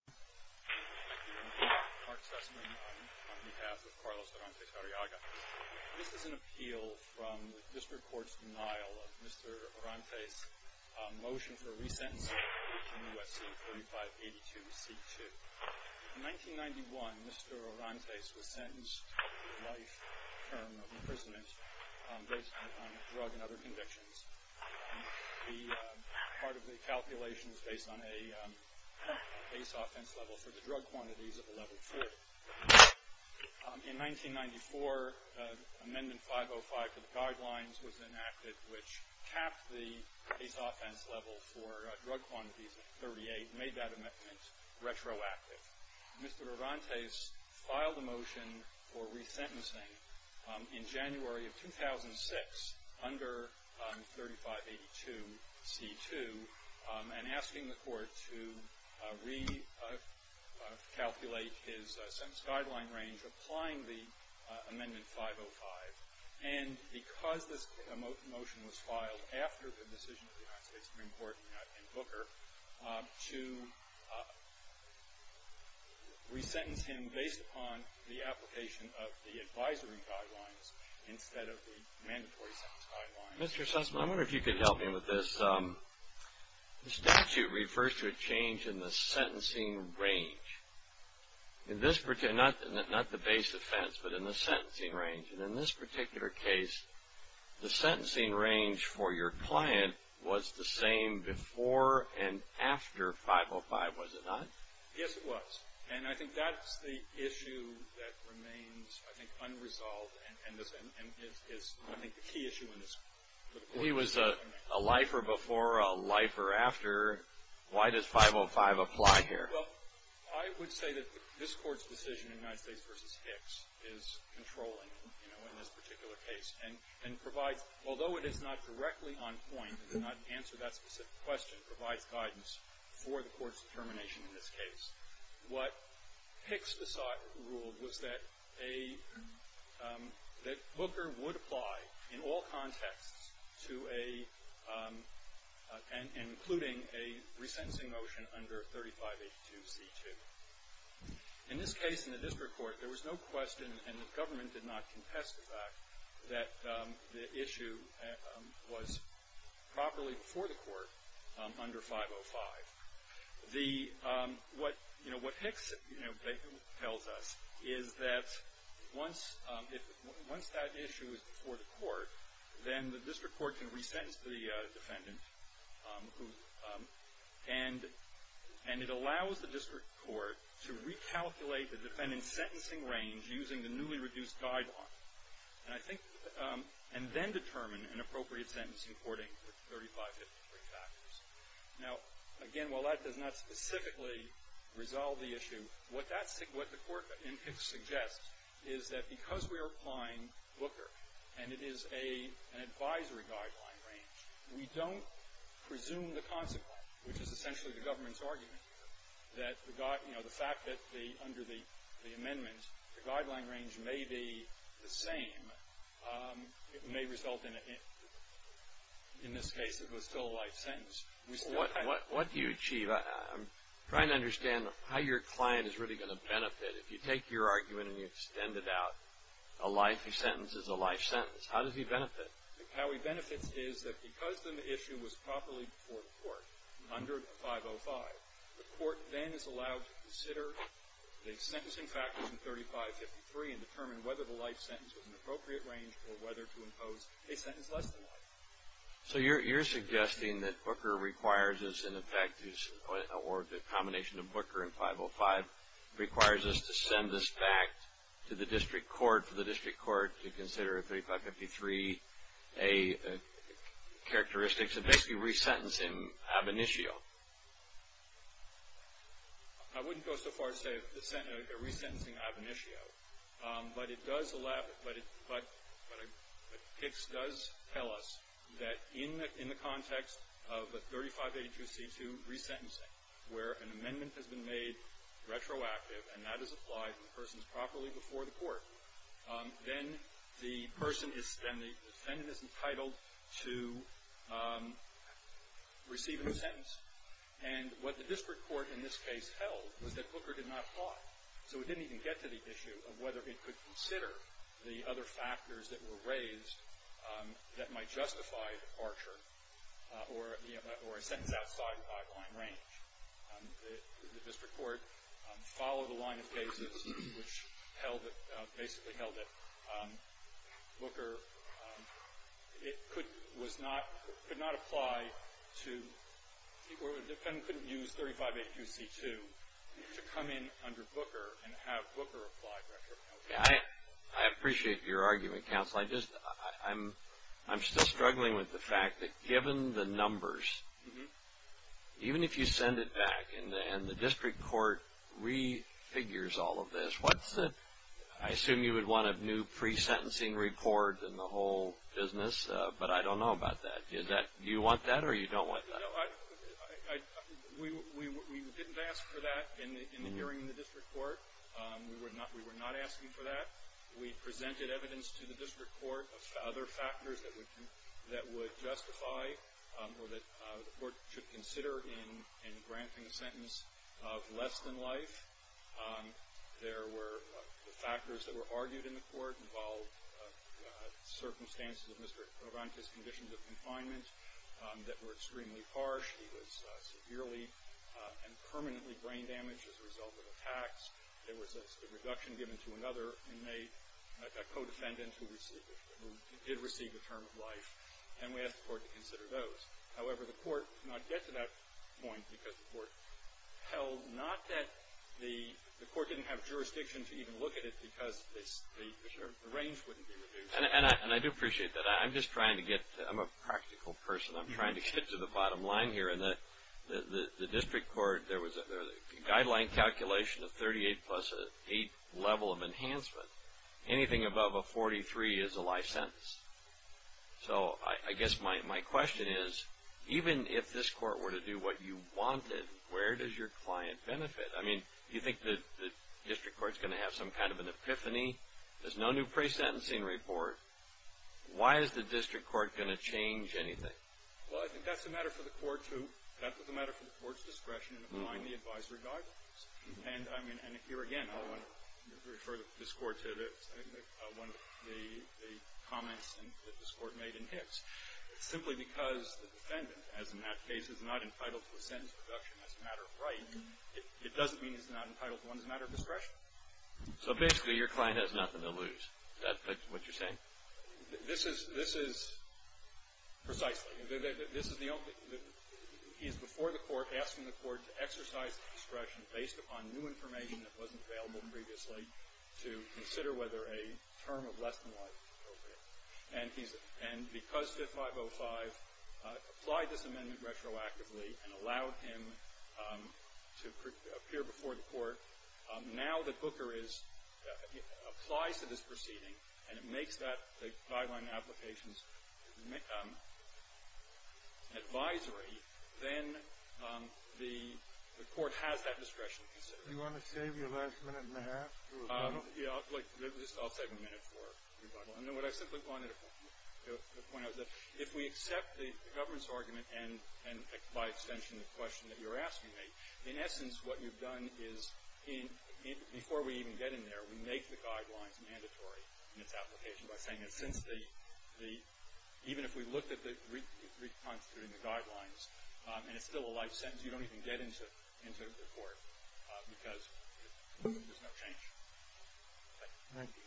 Thank you, Your Honor. Mark Sussman on behalf of Carlos Orantes-Arriaga. This is an appeal from the District Court's denial of Mr. Orantes' motion for resentencing in the U.S.C. 4582-C2. In 1991, Mr. Orantes was sentenced to a life term of imprisonment based on a drug and other convictions. Part of the calculation was based on a base offense level for the drug quantities of a level 40. In 1994, Amendment 505 to the Guidelines was enacted, which capped the base offense level for drug quantities of 38 and made that amendment retroactive. Mr. Orantes filed a motion for resentencing in January of 2006 under 3582-C2 and asking the Court to recalculate his sentence guideline range applying the Amendment 505. And because this motion was filed after the decision of the United States Supreme Court in Booker, to resentence him based upon the application of the advisory guidelines instead of the mandatory sentence guidelines Mr. Sussman, I wonder if you could help me with this. The statute refers to a change in the sentencing range. Not the base offense, but in the sentencing range. And in this particular case, the sentencing range for your client was the same before and after 505, was it not? Yes, it was. And I think that's the issue that remains, I think, unresolved and is, I think, the key issue in this. He was a lifer before, a lifer after. Why does 505 apply here? Well, I would say that this Court's decision in United States v. Hicks is controlling, you know, in this particular case and provides, although it is not directly on point, does not answer that specific question, provides guidance for the Court's determination in this case. What Hicks ruled was that a, that Booker would apply in all contexts to a, and including a resentencing motion under 3582c2. In this case, in the district court, there was no question and the government did not contest the fact that the issue was properly before the court under 505. The, what, you know, what Hicks, you know, tells us is that once that issue is before the court, then the district court can resentence the defendant who, and it allows the district court to recalculate the defendant's sentencing range using the newly reduced guideline. And I think, and then determine an appropriate sentencing according to 3553 factors. Now, again, while that does not specifically resolve the issue, what that, what the Court in Hicks suggests is that because we are applying Booker and it is a, an advisory guideline range, we don't presume the consequence, which is essentially the government's argument, that the, you know, the fact that the, under the amendment, the guideline range may be the same, it may result in a hint. In this case, it was still a life sentence. What, what, what do you achieve? I'm trying to understand how your client is really going to benefit. If you take your argument and you extend it out, a life sentence is a life sentence. How does he benefit? How he benefits is that because the issue was properly before the court under 505, the court then is allowed to consider the sentencing factors in 3553 and determine whether the life sentence was an appropriate range or whether to impose a sentence less than life. So, you're, you're suggesting that Booker requires us, in effect, or the combination of Booker and 505 requires us to send this back to the district court, for the district court to consider 3553 characteristics of basically resentencing ab initio. I wouldn't go so far as to say a resentencing ab initio. But it does allow, but it, but, but it does tell us that in the, in the context of a 3582C2 resentencing where an amendment has been made retroactive and that is applied and the person is properly before the court, then the person is, then the defendant is entitled to receiving a sentence. And what the district court in this case held was that Booker did not apply. So it didn't even get to the issue of whether it could consider the other factors that were raised that might justify departure or, you know, or a sentence outside the five-line range. The district court followed the line of basis which held it, basically held it. Booker, it could, was not, could not apply to, or the defendant couldn't use 3582C2 to come in under Booker and have Booker apply retroactively. I appreciate your argument, counsel. I just, I'm, I'm still struggling with the fact that given the numbers, even if you send it back and the district court re-figures all of this, what's the, I assume you would want a new pre-sentencing report and the whole business, but I don't know about that. Is that, do you want that or you don't want that? No, I, I, we, we, we didn't ask for that in the, in the hearing in the district court. We were not, we were not asking for that. We presented evidence to the district court of other factors that would, that would justify or that the court should consider in, in granting a sentence of less than life. There were the factors that were argued in the court involved circumstances of Mr. Provanti's conditions of confinement that were extremely harsh. He was severely and permanently brain damaged as a result of attacks. There was a reduction given to another inmate, a co-defendant who received, who did receive a term of life. And we asked the court to consider those. However, the court did not get to that point because the court held not that the, the court didn't have jurisdiction to even look at it because the, the range wouldn't be reduced. And, and I, and I do appreciate that. I'm just trying to get, I'm a practical person. I'm trying to get to the bottom line here. And the, the, the district court, there was a guideline calculation of 38 plus 8 level of enhancement. Anything above a 43 is a life sentence. So, I, I guess my, my question is, even if this court were to do what you wanted, where does your client benefit? I mean, do you think that the district court's going to have some kind of an epiphany? There's no new pre-sentencing report. Why is the district court going to change anything? Well, I think that's a matter for the court to, that's a matter for the court's discretion in applying the advisory guidelines. And, I mean, and here again, I want to refer this court to one of the, the comments that this court made in Hicks. Simply because the defendant, as in that case, is not entitled to a sentence reduction as a matter of right, it doesn't mean he's not entitled to one as a matter of discretion. So, basically, your client has nothing to lose. Is that what you're saying? This is, this is precisely. This is the only, he's before the court asking the court to exercise discretion based upon new information that wasn't available previously to consider whether a term of less than life is appropriate. And he's, and because 5505 applied this amendment retroactively and allowed him to appear before the court, now that Booker is, applies to this proceeding and it makes that, the guideline applications advisory, then the court has that discretion to consider. Do you want to save your last minute and a half for rebuttal? Yeah. I'll save a minute for rebuttal. And what I simply wanted to point out is that if we accept the government's argument and, by extension, the question that you're asking me, in essence, what you've done is in, before we even get in there, we make the guidelines mandatory in its application by saying that since the, even if we looked at the reconstituting the guidelines and it's still a life sentence, you don't even get into the court because there's no change. Thank you. Thank you.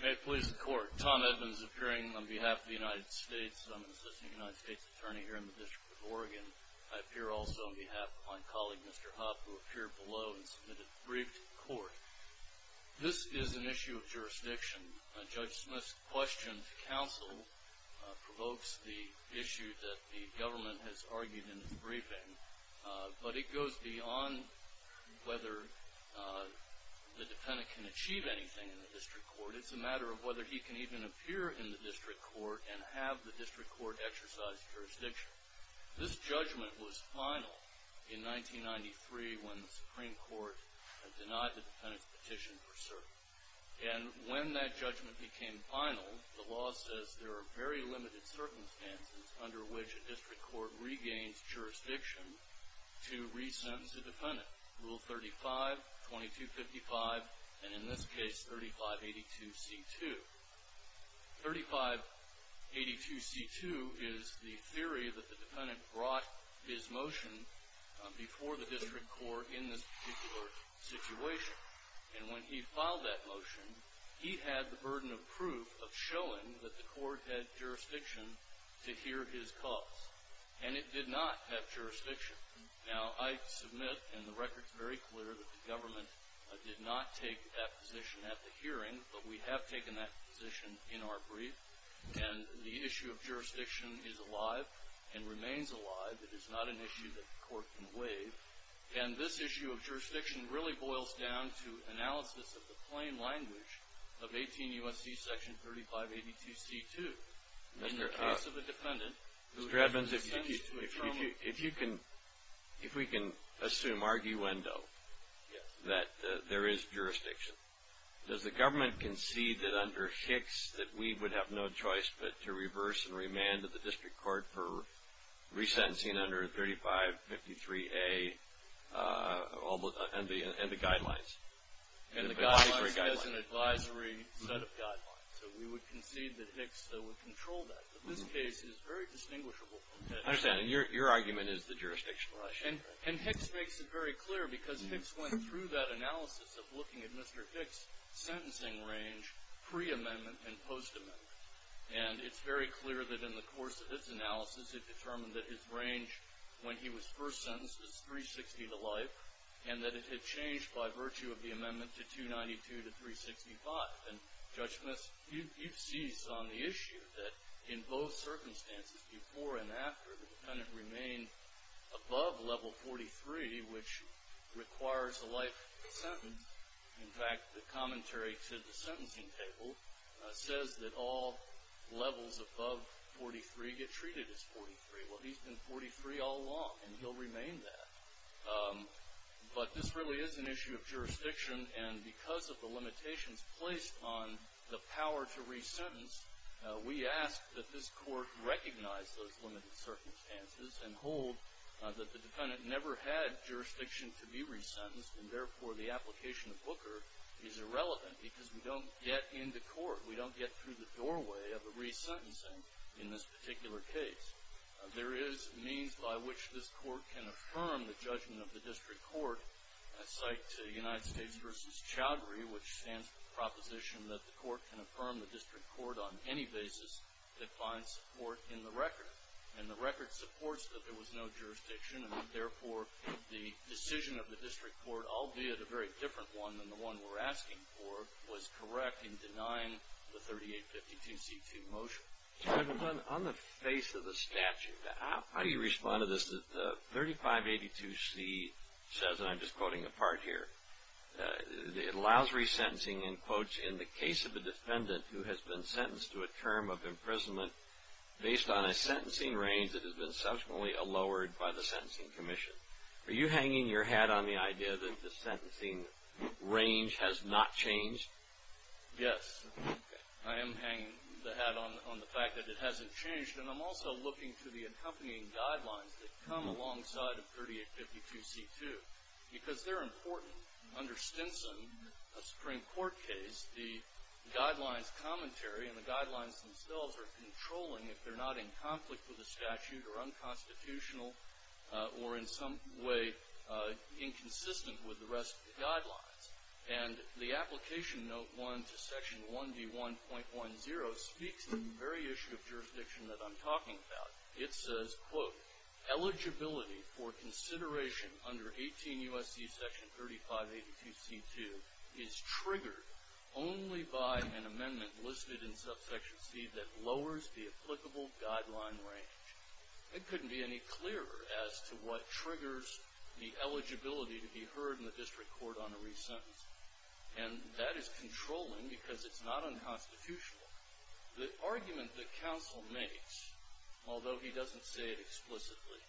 May it please the court. Tom Edmonds appearing on behalf of the United States. I'm an assistant United States attorney here in the District of Oregon. I appear also on behalf of my colleague, Mr. Hubb, who appeared below and submitted the brief to the court. This is an issue of jurisdiction. Judge Smith's question to counsel provokes the issue that the government has argued in its briefing, but it goes beyond whether the defendant can achieve anything in the district court. It's a matter of whether he can even appear in the district court and have the district court exercise jurisdiction. This judgment was final in 1993 when the Supreme Court denied the defendant's petition for cert. And when that judgment became final, the law says there are very limited circumstances under which a district court regains jurisdiction to re-sentence a defendant. Rule 35, 2255, and in this case 3582C2. 3582C2 is the theory that the defendant brought his motion before the district court in this particular situation. And when he filed that motion, he had the burden of proof of showing that the court had jurisdiction to hear his cause. And it did not have jurisdiction. Now, I submit, and the record's very clear, that the government did not take that position at the hearing, but we have taken that position in our brief. And the issue of jurisdiction is alive and remains alive. It is not an issue that the court can waive. And this issue of jurisdiction really boils down to analysis of the plain language of 18 U.S.C. section 3582C2. In the case of a defendant who has resented to a trauma. Mr. Edmonds, if you can, if we can assume arguendo that there is jurisdiction, does the government concede that under Hicks that we would have no choice but to reverse and remand to the district court for resentencing under 3553A and the guidelines? And the guidelines as an advisory set of guidelines. So we would concede that Hicks would control that. But this case is very distinguishable from Hicks. I understand. And your argument is the jurisdictional issue. And Hicks makes it very clear because Hicks went through that analysis of looking at Mr. Hicks' sentencing range pre-amendment and post-amendment. And it's very clear that in the course of his analysis, it determined that his range when he was first sentenced was 360 to life, and that it had changed by virtue of the amendment to 292 to 365. And, Judge Smith, you've seized on the issue that in both circumstances, before and after the defendant remained above level 43, which requires a life sentence. In fact, the commentary to the sentencing table says that all levels above 43 get treated as 43. Well, he's been 43 all along, and he'll remain that. But this really is an issue of jurisdiction. And because of the limitations placed on the power to resentence, we ask that this Court recognize those limited circumstances and hold that the defendant never had jurisdiction to be resentenced, and therefore the application of Booker is irrelevant because we don't get into court. We don't get through the doorway of a resentencing in this particular case. There is means by which this Court can affirm the judgment of the district court. I cite United States v. Chowdhury, which stands for the proposition that the Court can affirm the district court on any basis that finds support in the record. And the record supports that there was no jurisdiction, and therefore the decision of the district court, albeit a very different one than the one we're asking for, was correct in denying the 3852C2 motion. On the face of the statute, how do you respond to this? The 3582C says, and I'm just quoting a part here, it allows resentencing in quotes, in the case of a defendant who has been sentenced to a term of imprisonment based on a sentencing range that has been subsequently lowered by the Sentencing Commission. Are you hanging your hat on the idea that the sentencing range has not changed? Yes. I am hanging the hat on the fact that it hasn't changed, and I'm also looking to the accompanying guidelines that come alongside of 3852C2, because they're important. Under Stinson, a Supreme Court case, the guidelines commentary and the guidelines themselves are controlling if they're not in conflict with the statute or unconstitutional or in some way inconsistent with the rest of the guidelines. And the Application Note 1 to Section 1D1.10 speaks to the very issue of jurisdiction that I'm talking about. It says, quote, only by an amendment listed in Subsection C that lowers the applicable guideline range. It couldn't be any clearer as to what triggers the eligibility to be heard in the district court on a resentencing. And that is controlling because it's not unconstitutional. The argument that counsel makes, although he doesn't say it explicitly,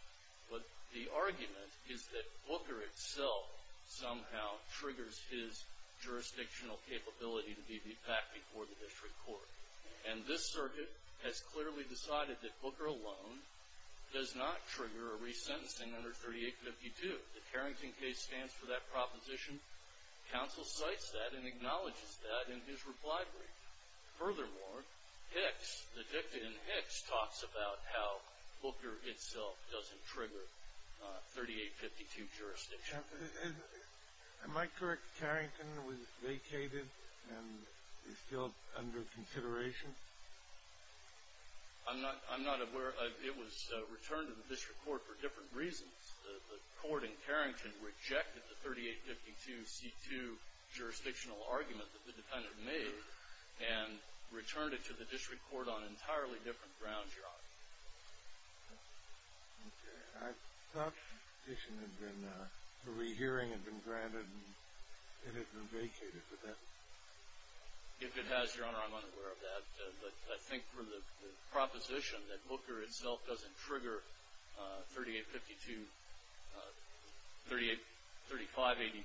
but the argument is that Booker itself somehow triggers his jurisdictional capability to be beat back before the district court. And this circuit has clearly decided that Booker alone does not trigger a resentencing under 3852. The Carrington case stands for that proposition. Counsel cites that and acknowledges that in his reply brief. Furthermore, Hicks, the dicta in Hicks, talks about how Booker itself doesn't trigger 3852 jurisdiction. Am I correct that Carrington was vacated and is still under consideration? I'm not aware. It was returned to the district court for different reasons. The court in Carrington rejected the 3852C2 jurisdictional argument that the defendant made and returned it to the district court on an entirely different ground, Your Honor. Okay. I thought the petition had been, the rehearing had been granted and it had been vacated. Would that be true? If it has, Your Honor, I'm unaware of that. But I think from the proposition that Booker itself doesn't trigger 3852, 3582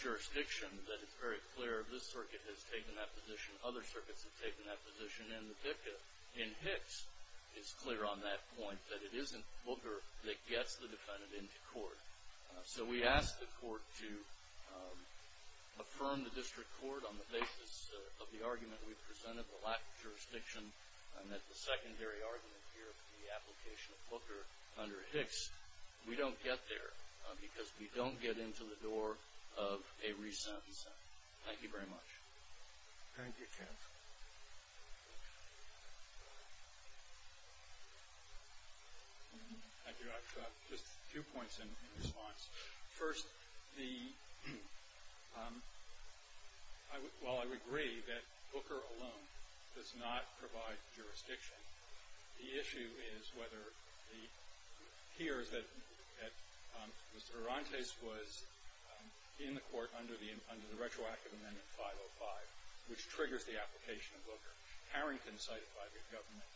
jurisdiction, that it's very clear this circuit has taken that position, other circuits have taken that position, and the dicta in Hicks is clear on that point, that it isn't Booker that gets the defendant into court. So we ask the court to affirm the district court on the basis of the argument we've presented, the lack of jurisdiction, and that the secondary argument here, the application of Booker under Hicks, we don't get there because we don't get into the door of a re-sentence. Thank you very much. Thank you, counsel. Thank you, Your Honor. Just two points in response. First, the, while I would agree that Booker alone does not provide jurisdiction, the issue is whether the, here is that Mr. Arantes was in the court under the retroactive amendment 505, which triggers the application of Booker. Harrington cited by the government,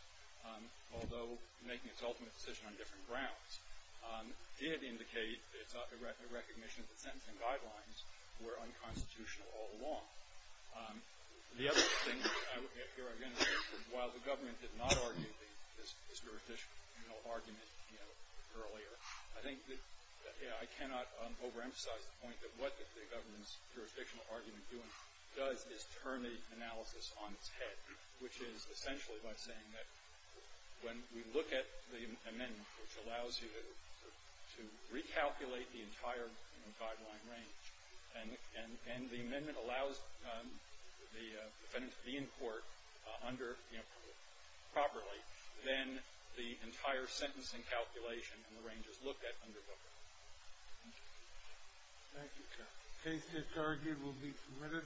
although making its ultimate decision on different grounds, did indicate a recognition that sentencing guidelines were unconstitutional all along. The other thing that I would, while the government did not argue this jurisdictional argument earlier, I think that I cannot overemphasize the point that what the government's jurisdictional argument does is turn the analysis on its head, which is essentially by saying that when we look at the amendment, which allows you to recalculate the entire guideline range, and the amendment allows the defendant to be in court under Booker properly, then the entire sentencing calculation and the range is looked at under Booker. Thank you. Thank you, counsel. Case disargued will be submitted.